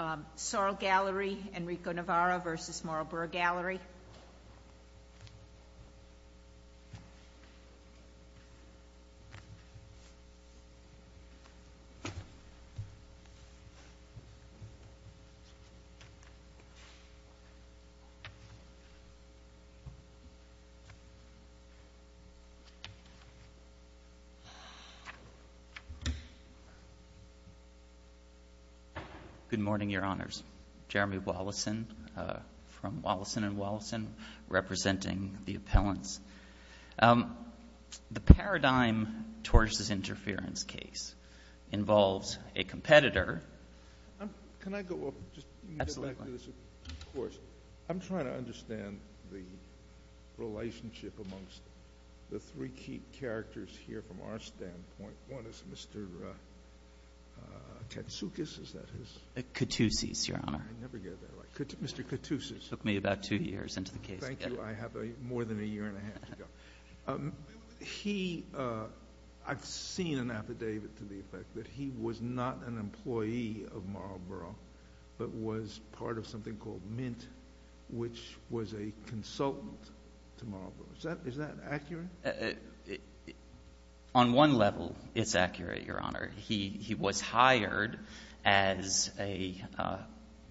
S.A.R.L. Galerie Enrico Navarro versus Marlboro Gallery. Good morning, Your Honors. Jeremy Wollison from Wollison & Wollison, representing the appellants. The paradigm towards this interference case involves a competitor. Can I go off? Absolutely. I'm trying to understand the relationship amongst the three key characters here from our standpoint. One is Mr. Katsoukis. Is that his? Katsoukis, Your Honor. I never get that right. Mr. Katsoukis. It took me about two years into the case. Thank you. I have more than a year and a half to go. He, I've seen an affidavit to the effect that he was not an employee of Marlboro, but was part of something called Mint, which was a consultant to Marlboro. Is that accurate? On one level, it's accurate, Your Honor. He was hired as a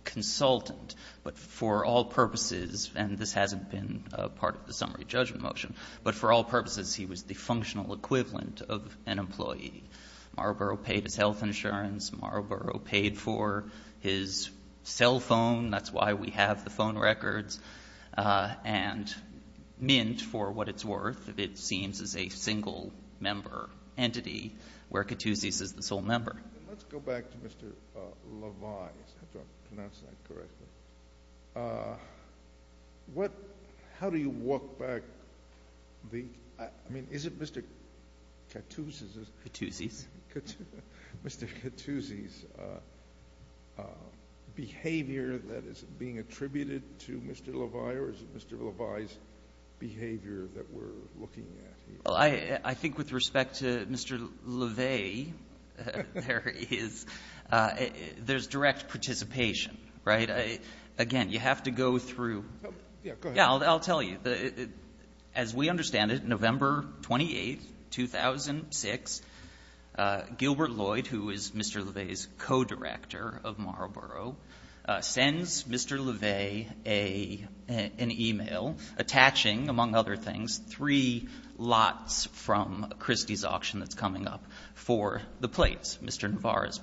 consultant, but for all purposes, and this hasn't been part of the summary judgment motion, but for all purposes he was the functional equivalent of an employee. Marlboro paid his health insurance. Marlboro paid for his cell phone. That's why we have the phone records. And Mint, for what it's worth, it seems is a single-member entity where Katsoukis is the sole member. Let's go back to Mr. Levi. I don't know if I pronounced that correctly. How do you walk back the, I mean, is it Mr. Katsoukis? Katsoukis. Mr. Katsoukis' behavior that is being attributed to Mr. Levi, or is it Mr. Levi's behavior that we're looking at here? I think with respect to Mr. Levi, there is direct participation, right? Again, you have to go through. Yeah, go ahead. Yeah, I'll tell you. As we understand it, November 28, 2006, Gilbert Lloyd, who is Mr. Levi's co-director of Marlboro, sends Mr. Levi an e-mail attaching, among other things, three lots from Christie's auction that's coming up for the plates, Mr. Navarro's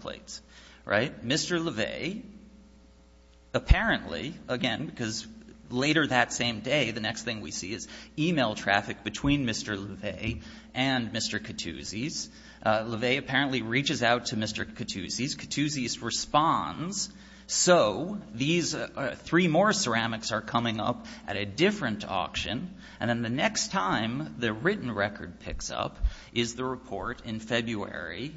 Apparently, again, because later that same day, the next thing we see is e-mail traffic between Mr. Levi and Mr. Katsoukis. Levi apparently reaches out to Mr. Katsoukis. Katsoukis responds. So these three more ceramics are coming up at a different auction. And then the next time the written record picks up is the report in February,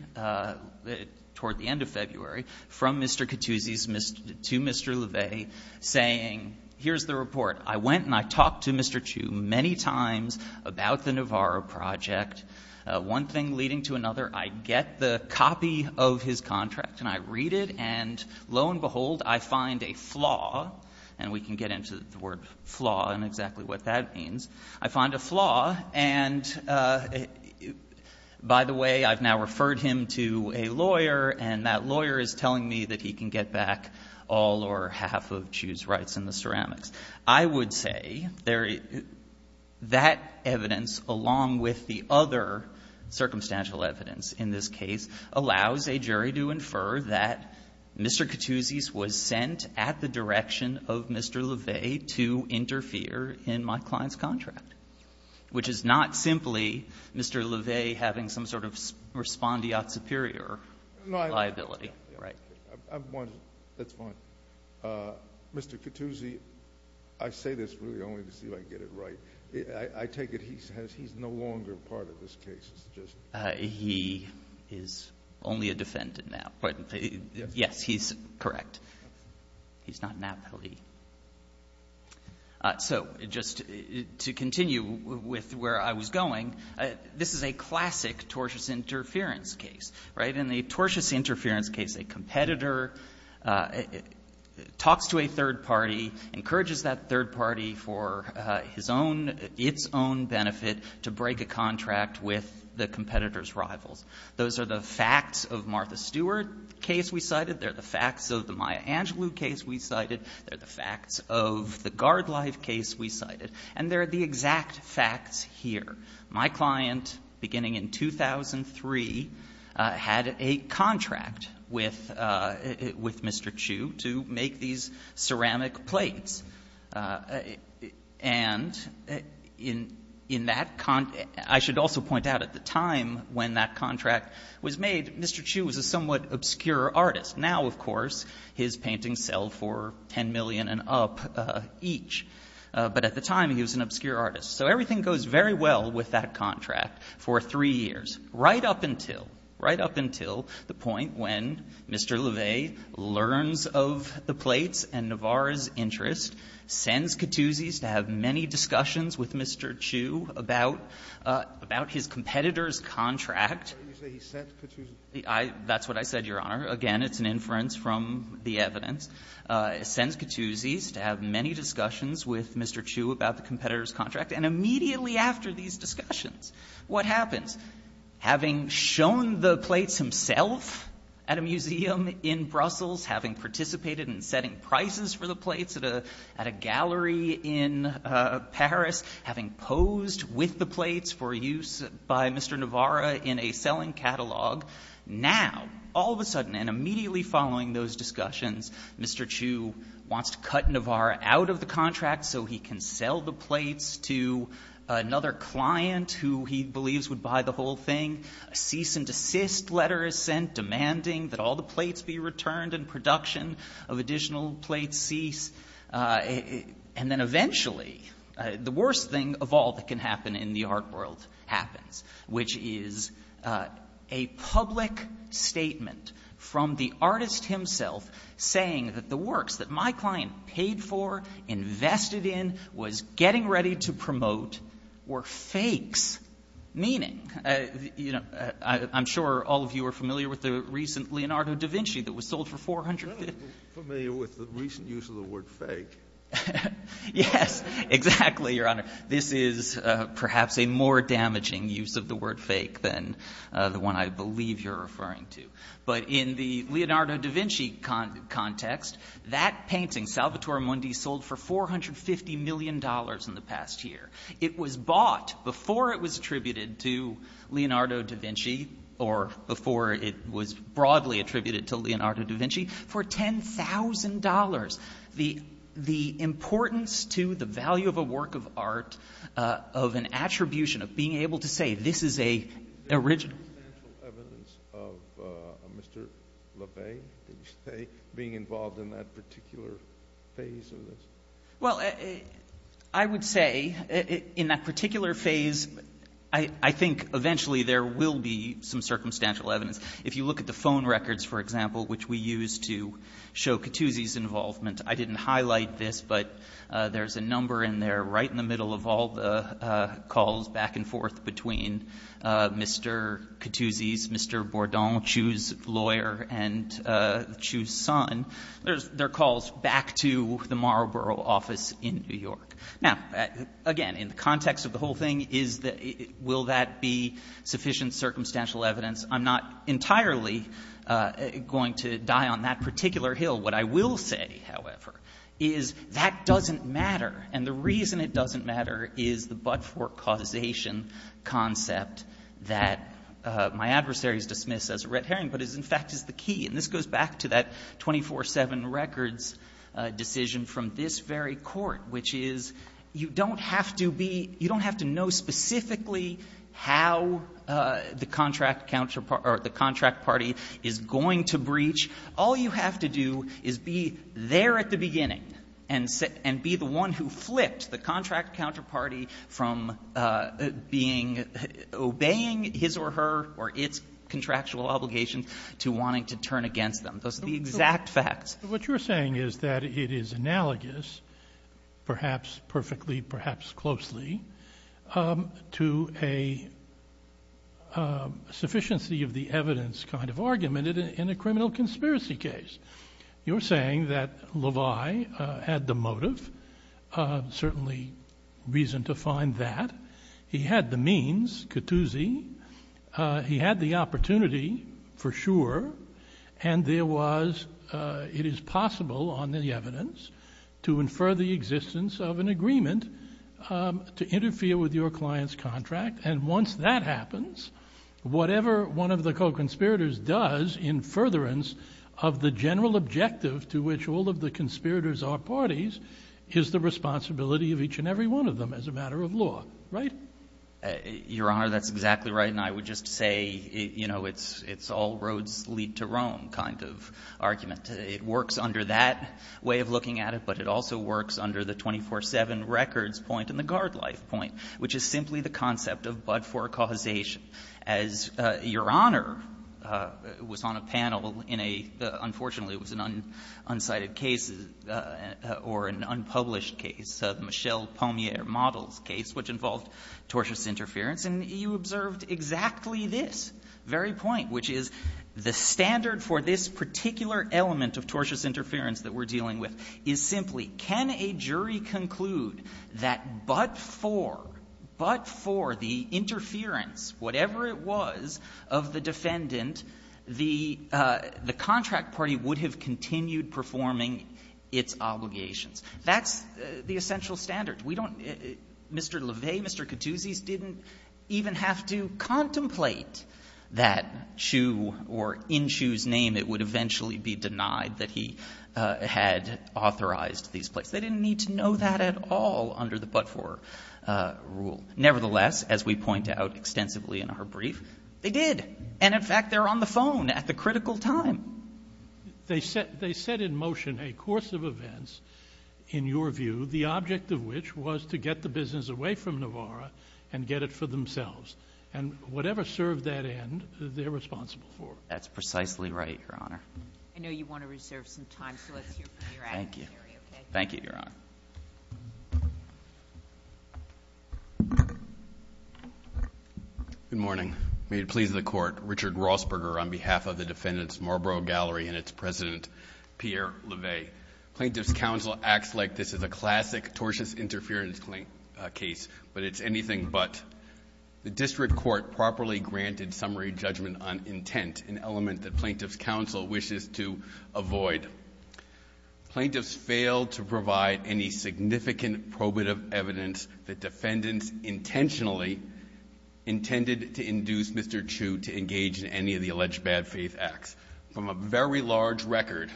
toward the end of February, from Mr. Katsoukis to Mr. Levi saying, here's the report. I went and I talked to Mr. Chu many times about the Navarro project. One thing leading to another. I get the copy of his contract, and I read it, and lo and behold, I find a flaw. And we can get into the word flaw and exactly what that means. I find a flaw, and by the way, I've now referred him to a lawyer, and that lawyer is telling me that he can get back all or half of Chu's rights in the ceramics. I would say that evidence, along with the other circumstantial evidence in this case, allows a jury to infer that Mr. Katsoukis was sent at the direction of Mr. Levi to interfere in my client's contract, which is not simply Mr. Levi having some sort of respondeat superior liability. That's fine. Mr. Katouzi, I say this really only to see if I get it right. I take it he's no longer part of this case. He is only a defendant now. Yes, he's correct. He's not an appellee. So just to continue with where I was going, this is a classic tortious interference case, right? In the tortious interference case, a competitor talks to a third party, encourages that third party for his own, its own benefit to break a contract with the competitor's rivals. Those are the facts of Martha Stewart case we cited. They're the facts of the Maya Angelou case we cited. They're the facts of the Gardlife case we cited. And they're the exact facts here. My client, beginning in 2003, had a contract with Mr. Chu to make these ceramic plates. And in that content, I should also point out at the time when that contract was made, Mr. Chu was a somewhat obscure artist. Now, of course, his paintings sell for $10 million and up each. But at the time, he was an obscure artist. So everything goes very well with that contract for three years, right up until the point when Mr. LaVey learns of the plates and Navarra's interest, sends Cattuzzi to have many discussions with Mr. Chu about his competitor's contract. That's what I said, Your Honor. Again, it's an inference from the evidence. It sends Cattuzzi to have many discussions with Mr. Chu about the competitor's contract, and immediately after these discussions, what happens? Having shown the plates himself at a museum in Brussels, having participated in setting prices for the plates at a gallery in Paris, having posed with the plates for use by Mr. Navarra in a selling catalog, now, all of a sudden and immediately following those discussions, Mr. Chu wants to cut Navarra out of the contract so he can sell the plates to another client who he believes would buy the whole thing. A cease and desist letter is sent demanding that all the plates be returned and production of additional plates cease. And then eventually, the worst thing of all that can happen in the art world happens, which is a public statement from the artist himself saying that the works that my client paid for, invested in, was getting ready to promote, were fakes. Meaning, I'm sure all of you are familiar with the recent Leonardo da Vinci that was sold for $450. Are you familiar with the recent use of the word fake? Yes, exactly, Your Honor. This is perhaps a more damaging use of the word fake than the one I believe you're referring to. But in the Leonardo da Vinci context, that painting, Salvatore Mundi, sold for $450 million in the past year. It was bought before it was attributed to Leonardo da Vinci, or before it was broadly attributed to Leonardo da Vinci, for $10,000. The importance to the value of a work of art, of an attribution, of being able to say, this is an original. Is there circumstantial evidence of Mr. LaVey, did you say, being involved in that particular phase of this? Well, I would say in that particular phase, I think eventually there will be some circumstantial evidence. If you look at the phone records, for example, which we use to show Cattuzzi's involvement, I didn't highlight this, but there's a number in there right in the middle of all the calls back and forth between Mr. Cattuzzi's, Mr. Bourdon, Chu's lawyer, and Chu's son. There are calls back to the Marlborough office in New York. Now, again, in the context of the whole thing, will that be sufficient circumstantial evidence? I'm not entirely going to die on that particular hill. What I will say, however, is that doesn't matter. And the reason it doesn't matter is the but-for causation concept that my adversaries dismiss as a red herring, but in fact is the key. And this goes back to that 24-7 records decision from this very court, which is you don't have to be, you don't have to know specifically how the contract counterpart or the contract party is going to breach. All you have to do is be there at the beginning and be the one who flipped the contract counterparty from being, obeying his or her or its contractual obligations to wanting to turn against them. Those are the exact facts. What you're saying is that it is analogous, perhaps perfectly, perhaps closely, to a sufficiency of the evidence kind of argument in a criminal conspiracy case. You're saying that Levi had the motive, certainly reason to find that. He had the means, Cattuzi. He had the opportunity, for sure, and there was, it is possible on the evidence to infer the existence of an agreement to interfere with your client's contract. And once that happens, whatever one of the co-conspirators does in furtherance of the general objective to which all of the conspirators are parties is the responsibility of each and every one of them as a matter of law, right? Your Honor, that's exactly right. And I would just say, you know, it's all roads lead to Rome kind of argument. It works under that way of looking at it, but it also works under the 24-7 records point and the guard life point, which is simply the concept of but-for causation. As Your Honor was on a panel in a, unfortunately, it was an unsighted case or an unpublished case, the Michel-Pommier-Models case, which involved tortious interference, and you observed exactly this very point, which is the standard for this particular element of tortious interference that we're dealing with is simply can a jury conclude that but-for, but-for the interference, whatever it was, of the defendant, the contract party would have continued performing its obligations. That's the essential standard. We don't — Mr. Leve, Mr. Cattuzis didn't even have to contemplate that Chu or in Chu's name it would eventually be denied that he had authorized these plates. They didn't need to know that at all under the but-for rule. Nevertheless, as we point out extensively in our brief, they did. And in fact, they're on the phone at the critical time. They set in motion a course of events, in your view, the object of which was to get the business away from Navarro and get it for themselves. And whatever served that end, they're responsible for. That's precisely right, Your Honor. I know you want to reserve some time, so let's hear from your adversary, okay? Thank you. Thank you, Your Honor. Good morning. May it please the Court. Richard Rossberger on behalf of the defendant's Marlboro Gallery and its president, Pierre Leve. Plaintiff's counsel acts like this is a classic tortious interference case, but it's anything but. The district court properly granted summary judgment on intent, an element that plaintiff's counsel wishes to avoid. Plaintiffs failed to provide any significant probative evidence that defendants intentionally intended to induce Mr. Chu to engage in any of the alleged bad faith acts. From a very large record,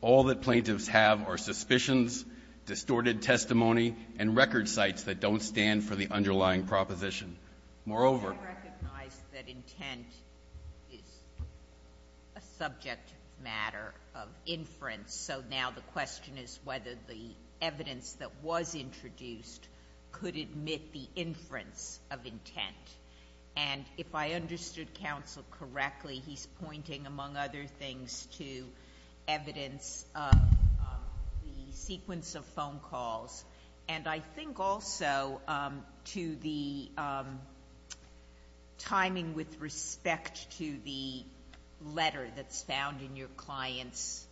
all that plaintiffs have are suspicions, distorted testimony, and record sites that don't stand for the underlying proposition. Moreover --" Intent is a subject matter of inference, so now the question is whether the evidence that was introduced could admit the inference of intent. And if I understood counsel correctly, he's pointing among other things to evidence of the sequence of phone calls. And I think also to the timing with respect to the letter that's found in your client's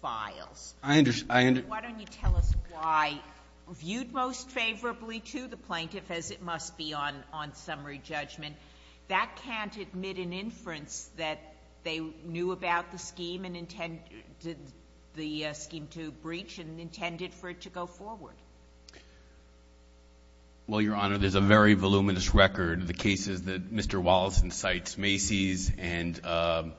files. I understand. Why don't you tell us why viewed most favorably to the plaintiff, as it must be on summary judgment, that can't admit an inference that they knew about the scheme and intended the scheme to breach and intended for it to go forward? Well, Your Honor, there's a very voluminous record of the cases that Mr. Wallace incites, Macy's and the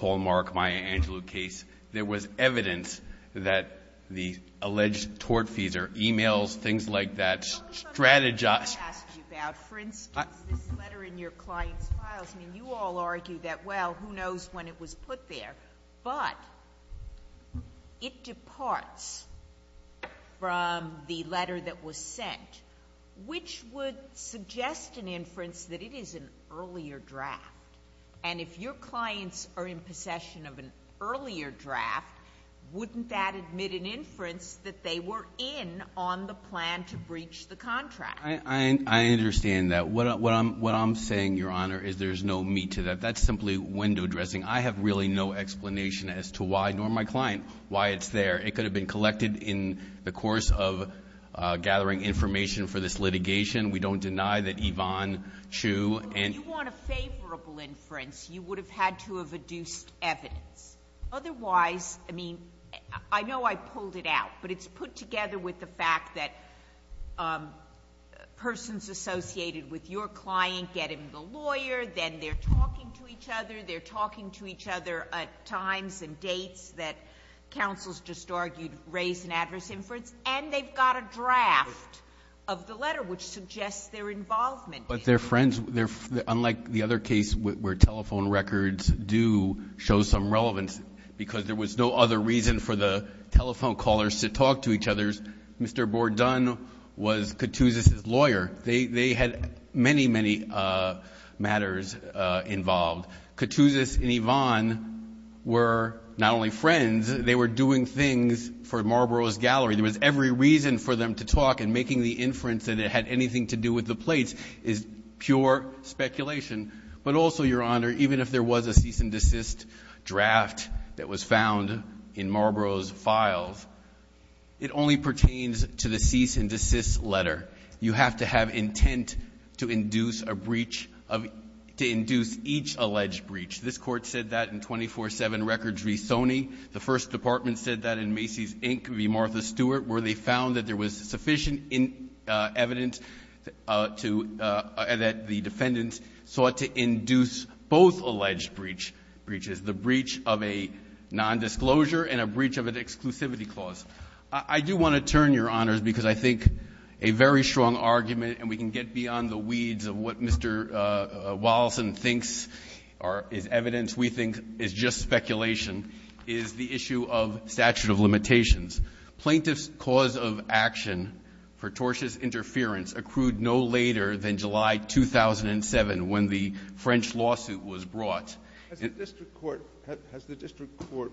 Hallmark-Maya Angelou case. There was evidence that the alleged tort fees or e-mails, things like that, strategize What I'm trying to ask you about, for instance, this letter in your client's files, and you all argue that, well, who knows when it was put there, but it departs from the letter that was sent, which would suggest an inference that it is an earlier draft. And if your clients are in possession of an earlier draft, wouldn't that admit an inference that they were in on the plan to breach the contract? I understand that. What I'm saying, Your Honor, is there's no meat to that. That's simply window dressing. I have really no explanation as to why, nor my client, why it's there. It could have been collected in the course of gathering information for this litigation. We don't deny that Yvonne Chu and If you want a favorable inference, you would have had to have adduced evidence. Otherwise, I mean, I know I pulled it out, but it's put together with the fact that persons associated with your client get in the lawyer. Then they're talking to each other. They're talking to each other at times and dates that counsels just argued raise an adverse inference. And they've got a draft of the letter, which suggests their involvement. But their friends, unlike the other case where telephone records do show some relevance, because there was no other reason for the telephone callers to talk to each other, Mr. Bordone was Cattuzis's lawyer. They had many, many matters involved. Cattuzis and Yvonne were not only friends, they were doing things for Marlboro's Gallery. There was every reason for them to talk, and making the inference that it had anything to do with the plates is pure speculation. But also, Your Honor, even if there was a cease and desist draft that was found in Marlboro's files, it only pertains to the cease and desist letter. You have to have intent to induce a breach, to induce each alleged breach. This Court said that in 24-7 Records v. Sony. The First Department said that in Macy's, Inc. v. Martha Stewart, where they found that there was sufficient evidence that the defendants sought to induce both alleged breaches, the breach of a nondisclosure and a breach of an exclusivity clause. I do want to turn, Your Honors, because I think a very strong argument, and we can get beyond the weeds of what Mr. Wallison thinks is evidence we think is just speculation, is the issue of statute of limitations. Plaintiff's cause of action for tortious interference accrued no later than July 2007, when the French lawsuit was brought. Has the district court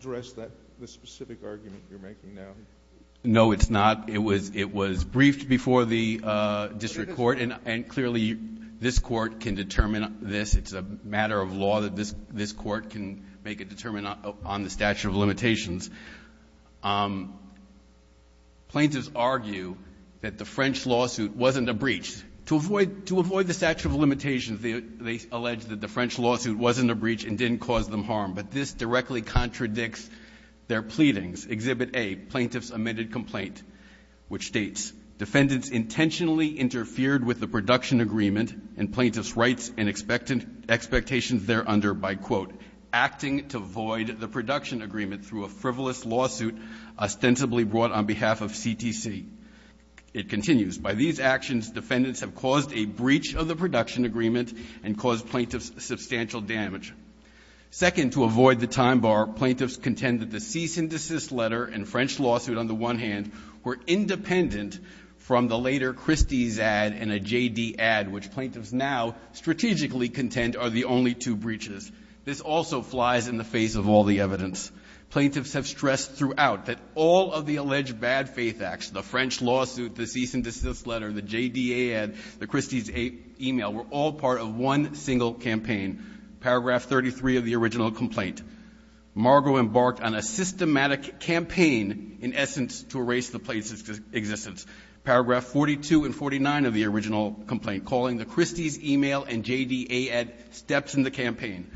addressed the specific argument you're making now? No, it's not. It was briefed before the district court, and clearly this court can determine this. It's a matter of law that this court can make a determination on the statute of limitations. Plaintiffs argue that the French lawsuit wasn't a breach. To avoid the statute of limitations, they allege that the French lawsuit wasn't a breach and didn't cause them harm. But this directly contradicts their pleadings. Exhibit A, Plaintiff's admitted complaint, which states, Defendants intentionally interfered with the production agreement and plaintiff's rights and expectations thereunder by, quote, acting to void the production agreement through a frivolous lawsuit ostensibly brought on behalf of CTC. It continues. By these actions, defendants have caused a breach of the production agreement and caused plaintiffs substantial damage. Second, to avoid the time bar, plaintiffs contend that the cease and desist letter and French lawsuit on the one hand were independent from the later Christie's ad and a JD ad, which plaintiffs now strategically contend are the only two breaches. This also flies in the face of all the evidence. Plaintiffs have stressed throughout that all of the alleged bad faith acts, the French lawsuit, the cease and desist letter, the JDA ad, the Christie's email, were all part of one single campaign, paragraph 33 of the original complaint. Margo embarked on a systematic campaign in essence to erase the plaintiff's existence. Paragraph 42 and 49 of the original complaint, calling the Christie's email and JDA ad steps in the campaign.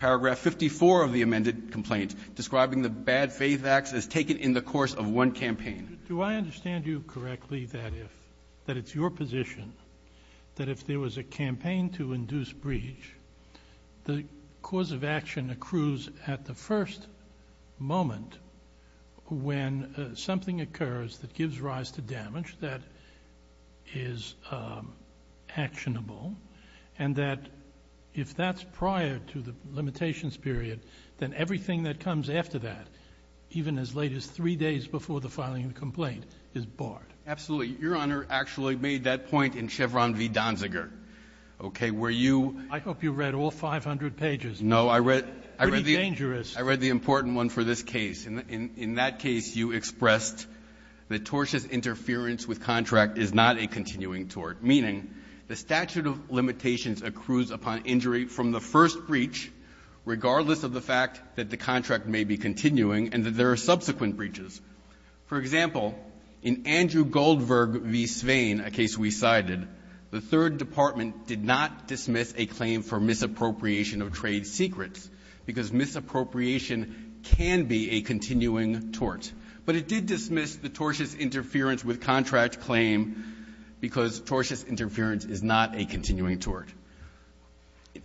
Paragraph 54 of the amended complaint, describing the bad faith acts as taken in the course of one campaign. Do I understand you correctly that if, that it's your position, that if there was a campaign to induce breach, the cause of action accrues at the first moment when something occurs that gives rise to damage that is actionable and that if that's prior to the limitations period, then everything that comes after that, even as late as three days before the filing of the complaint, is barred? Absolutely. Your Honor actually made that point in Chevron v. Donziger. Okay. Where you ---- I hope you read all 500 pages. No. I read the important one for this case. In that case, you expressed that tortuous interference with contract is not a continuing tort, meaning the statute of limitations accrues upon injury from the first breach, regardless of the fact that the contract may be continuing and that there are subsequent breaches. For example, in Andrew Goldberg v. Swain, a case we cited, the Third Department did not dismiss a claim for misappropriation of trade secrets because misappropriation can be a continuing tort. But it did dismiss the tortuous interference with contract claim because tortuous interference is not a continuing tort.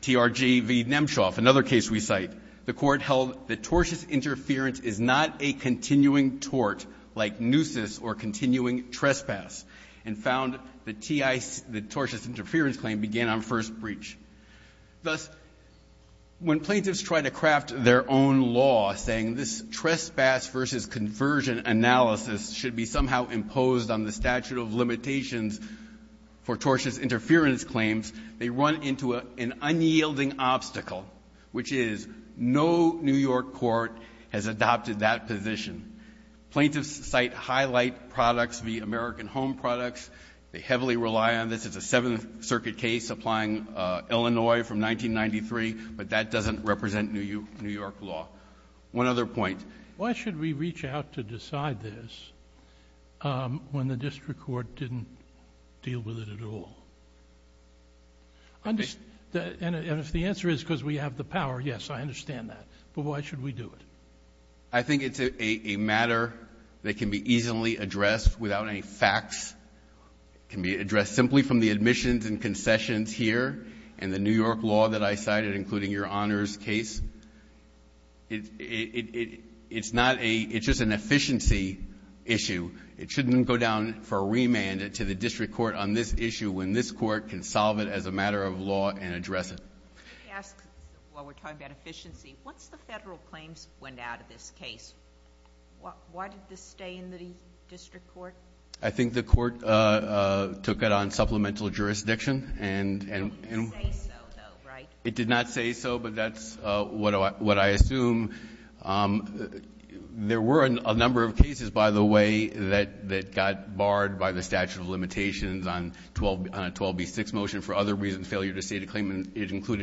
TRG v. Nemchoff, another case we cite, the Court held that tortuous interference is not a continuing tort, like nuisance or continuing trespass, and found the T.I. the tortuous interference claim began on first breach. Thus, when plaintiffs try to craft their own law saying this trespass versus conversion analysis should be somehow imposed on the statute of limitations for tortious interference claims, they run into an unyielding obstacle, which is no New York court has adopted that position. Plaintiffs cite highlight products v. American Home Products. They heavily rely on this. It's a Seventh Circuit case applying Illinois from 1993, but that doesn't represent New York law. One other point. Sotomayor Why should we reach out to decide this when the district court didn't deal with it at all? And if the answer is because we have the power, yes, I understand that. But why should we do it? I think it's a matter that can be easily addressed without any facts. It can be addressed simply from the admissions and concessions here and the New York law that I cited, including Your Honor's case. It's not a — it's just an efficiency issue. It shouldn't go down for a remand to the district court on this issue when this court can solve it as a matter of law and address it. Let me ask, while we're talking about efficiency, once the federal claims went out of this case, why did this stay in the district court? I think the court took it on supplemental jurisdiction. It didn't say so, though, right? It did not say so, but that's what I assume. There were a number of cases, by the way, that got barred by the statute of limitations, including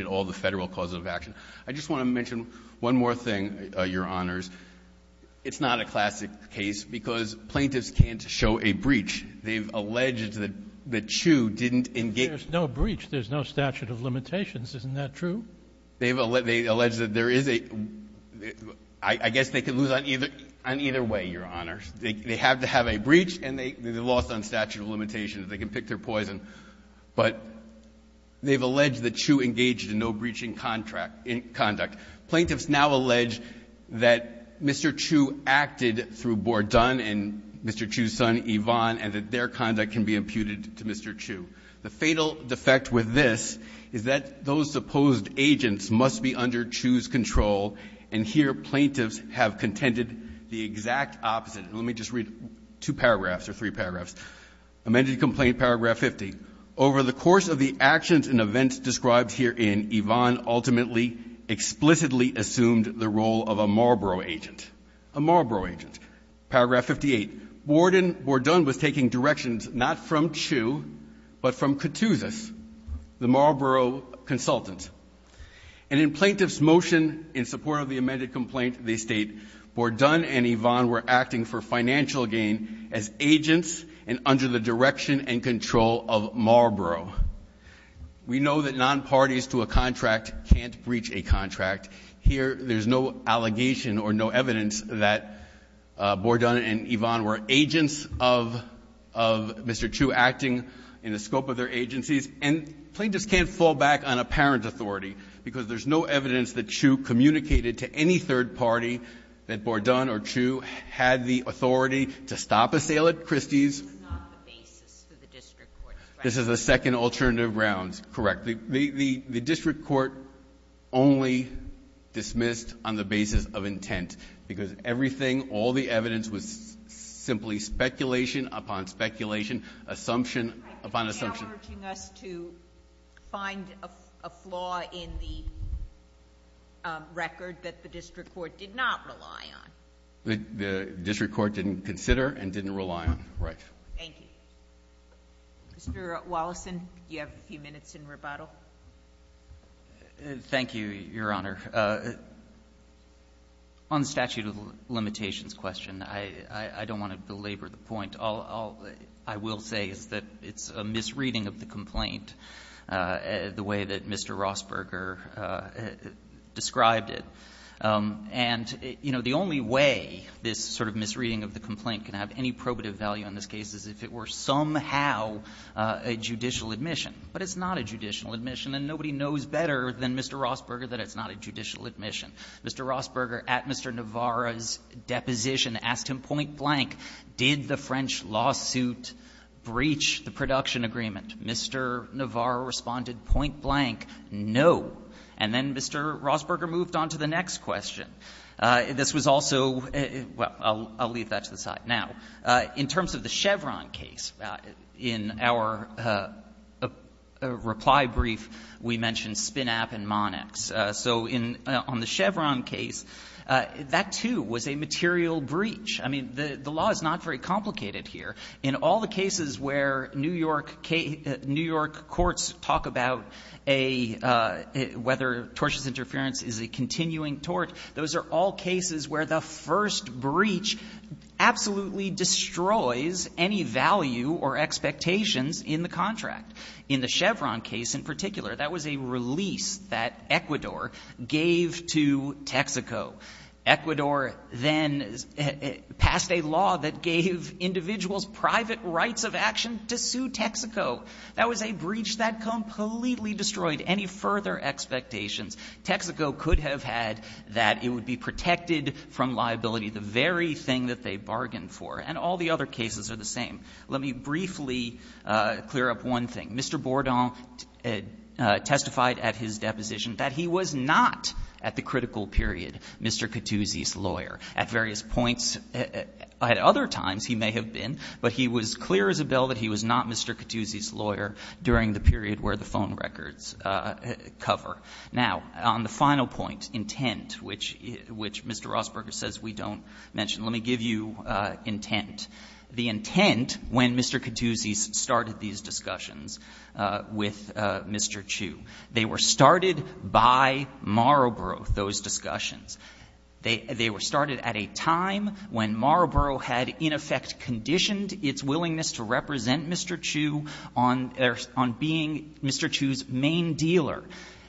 all the federal causes of action. I just want to mention one more thing, Your Honors. It's not a classic case because plaintiffs can't show a breach. They've alleged that the CHU didn't engage — But there's no breach. There's no statute of limitations. Isn't that true? They've — they allege that there is a — I guess they could lose on either — on either way, Your Honors. They have to have a breach, and they lost on statute of limitations. They can pick their poison. But they've alleged that CHU engaged in no-breaching contract — conduct. Plaintiffs now allege that Mr. CHU acted through Bordone and Mr. CHU's son, Yvonne, and that their conduct can be imputed to Mr. CHU. The fatal defect with this is that those supposed agents must be under CHU's control, and here plaintiffs have contended the exact opposite. And let me just read two paragraphs or three paragraphs. Amended complaint, paragraph 50. Over the course of the actions and events described herein, Yvonne ultimately explicitly assumed the role of a Marlboro agent. A Marlboro agent. Paragraph 58. Bordone was taking directions not from CHU, but from Ctuzis, the Marlboro consultant. And in plaintiff's motion in support of the amended complaint, they state, Bordone and Yvonne were acting for financial gain as agents and under the direction and control of Marlboro. We know that nonparties to a contract can't breach a contract. Here there's no allegation or no evidence that Bordone and Yvonne were agents of Mr. CHU acting in the scope of their agencies. And plaintiffs can't fall back on apparent authority because there's no evidence that CHU communicated to any third party that Bordone or CHU had the authority to stop a sale at Christie's. This is the second alternative round. Correct. The district court only dismissed on the basis of intent, because everything, all the evidence was simply speculation upon speculation, assumption upon assumption. Sotomayor is now urging us to find a flaw in the record that the district court did not rely on. The district court didn't consider and didn't rely on. Right. Thank you. Mr. Wallison, you have a few minutes in rebuttal. Thank you, Your Honor. On the statute of limitations question, I don't want to belabor the point. All I will say is that it's a misreading of the complaint, the way that Mr. Rossberger described it. And, you know, the only way this sort of misreading of the complaint can have any probative value in this case is if it were somehow a judicial admission. But it's not a judicial admission, and nobody knows better than Mr. Rossberger that it's not a judicial admission. Mr. Rossberger, at Mr. Navarro's deposition, asked him point-blank, did the French lawsuit breach the production agreement? Mr. Navarro responded point-blank, no. And then Mr. Rossberger moved on to the next question. This was also — well, I'll leave that to the side. Now, in terms of the Chevron case, in our reply brief, we mentioned Spinapp and Monax. So on the Chevron case, that, too, was a material breach. I mean, the law is not very complicated here. In all the cases where New York courts talk about a — whether tortious interference is a continuing tort, those are all cases where the first breach absolutely destroys any value or expectations in the contract. In the Chevron case in particular, that was a release that Ecuador gave to Texaco. Ecuador then passed a law that gave individuals private rights of action to sue Texaco. That was a breach that completely destroyed any further expectations. Texaco could have had that. It would be protected from liability, the very thing that they bargained for. And all the other cases are the same. Let me briefly clear up one thing. Mr. Bourdon testified at his deposition that he was not at the critical period Mr. Cattuzzi's lawyer at various points. At other times he may have been, but he was clear as a bill that he was not Mr. Cattuzzi's lawyer during the period where the phone records cover. Now, on the final point, intent, which Mr. Rossberger says we don't mention. Let me give you intent. The intent when Mr. Cattuzzi started these discussions with Mr. Chu. They were started by Marlborough, those discussions. They were started at a time when Marlborough had in effect conditioned its willingness to represent Mr. Chu on being Mr. Chu's main dealer.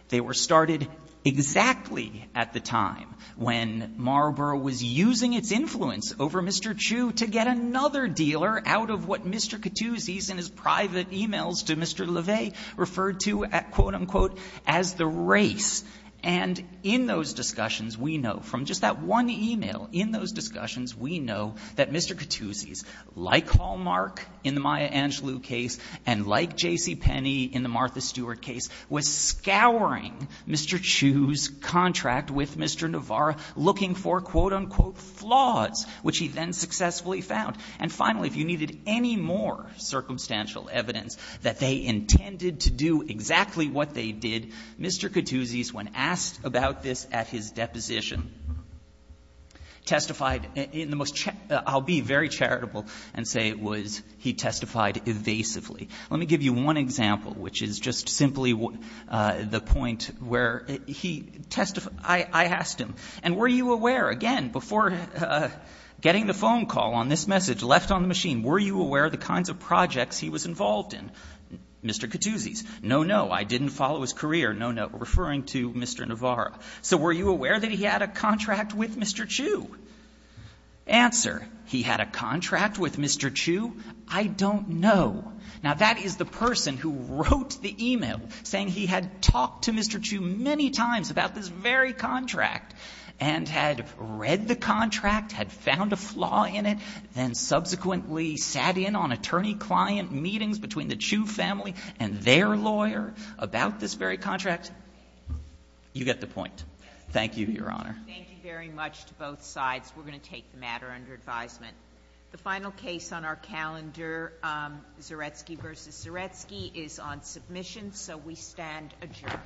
They were started exactly at the time when Marlborough was using its influence over Mr. Chu to get another dealer out of what Mr. Cattuzzi's in his private e-mails to Mr. LeVay referred to, quote, unquote, as the race. And in those discussions we know from just that one e-mail, in those discussions we know that Mr. Cattuzzi's, like Hallmark in the Maya Angelou case and like J.C. Penney in the Martha Stewart case, was scouring Mr. Chu's contract with Mr. Navarro looking for, quote, unquote, flaws, which he then successfully found. And finally, if you needed any more circumstantial evidence that they intended to do exactly what they did, Mr. Cattuzzi's, when asked about this at his deposition, testified in the most check – I'll be very charitable and say it was he testified evasively. Let me give you one example, which is just simply the point where he testified evasively. I asked him, and were you aware, again, before getting the phone call on this message left on the machine, were you aware of the kinds of projects he was involved in? Mr. Cattuzzi's, no, no, I didn't follow his career. No, no, referring to Mr. Navarro. So were you aware that he had a contract with Mr. Chu? Answer, he had a contract with Mr. Chu? I don't know. Now, that is the person who wrote the e-mail saying he had talked to Mr. Chu many times about this very contract and had read the contract, had found a flaw in it, then subsequently sat in on attorney-client meetings between the Chu family and their lawyer about this very contract. You get the point. Thank you, Your Honor. Thank you very much to both sides. We're going to take the matter under advisement. The final case on our calendar, Zaretsky v. Zaretsky, is on submission, so we stand adjourned. Four minutes, Your Honor. Four minutes, Your Honor.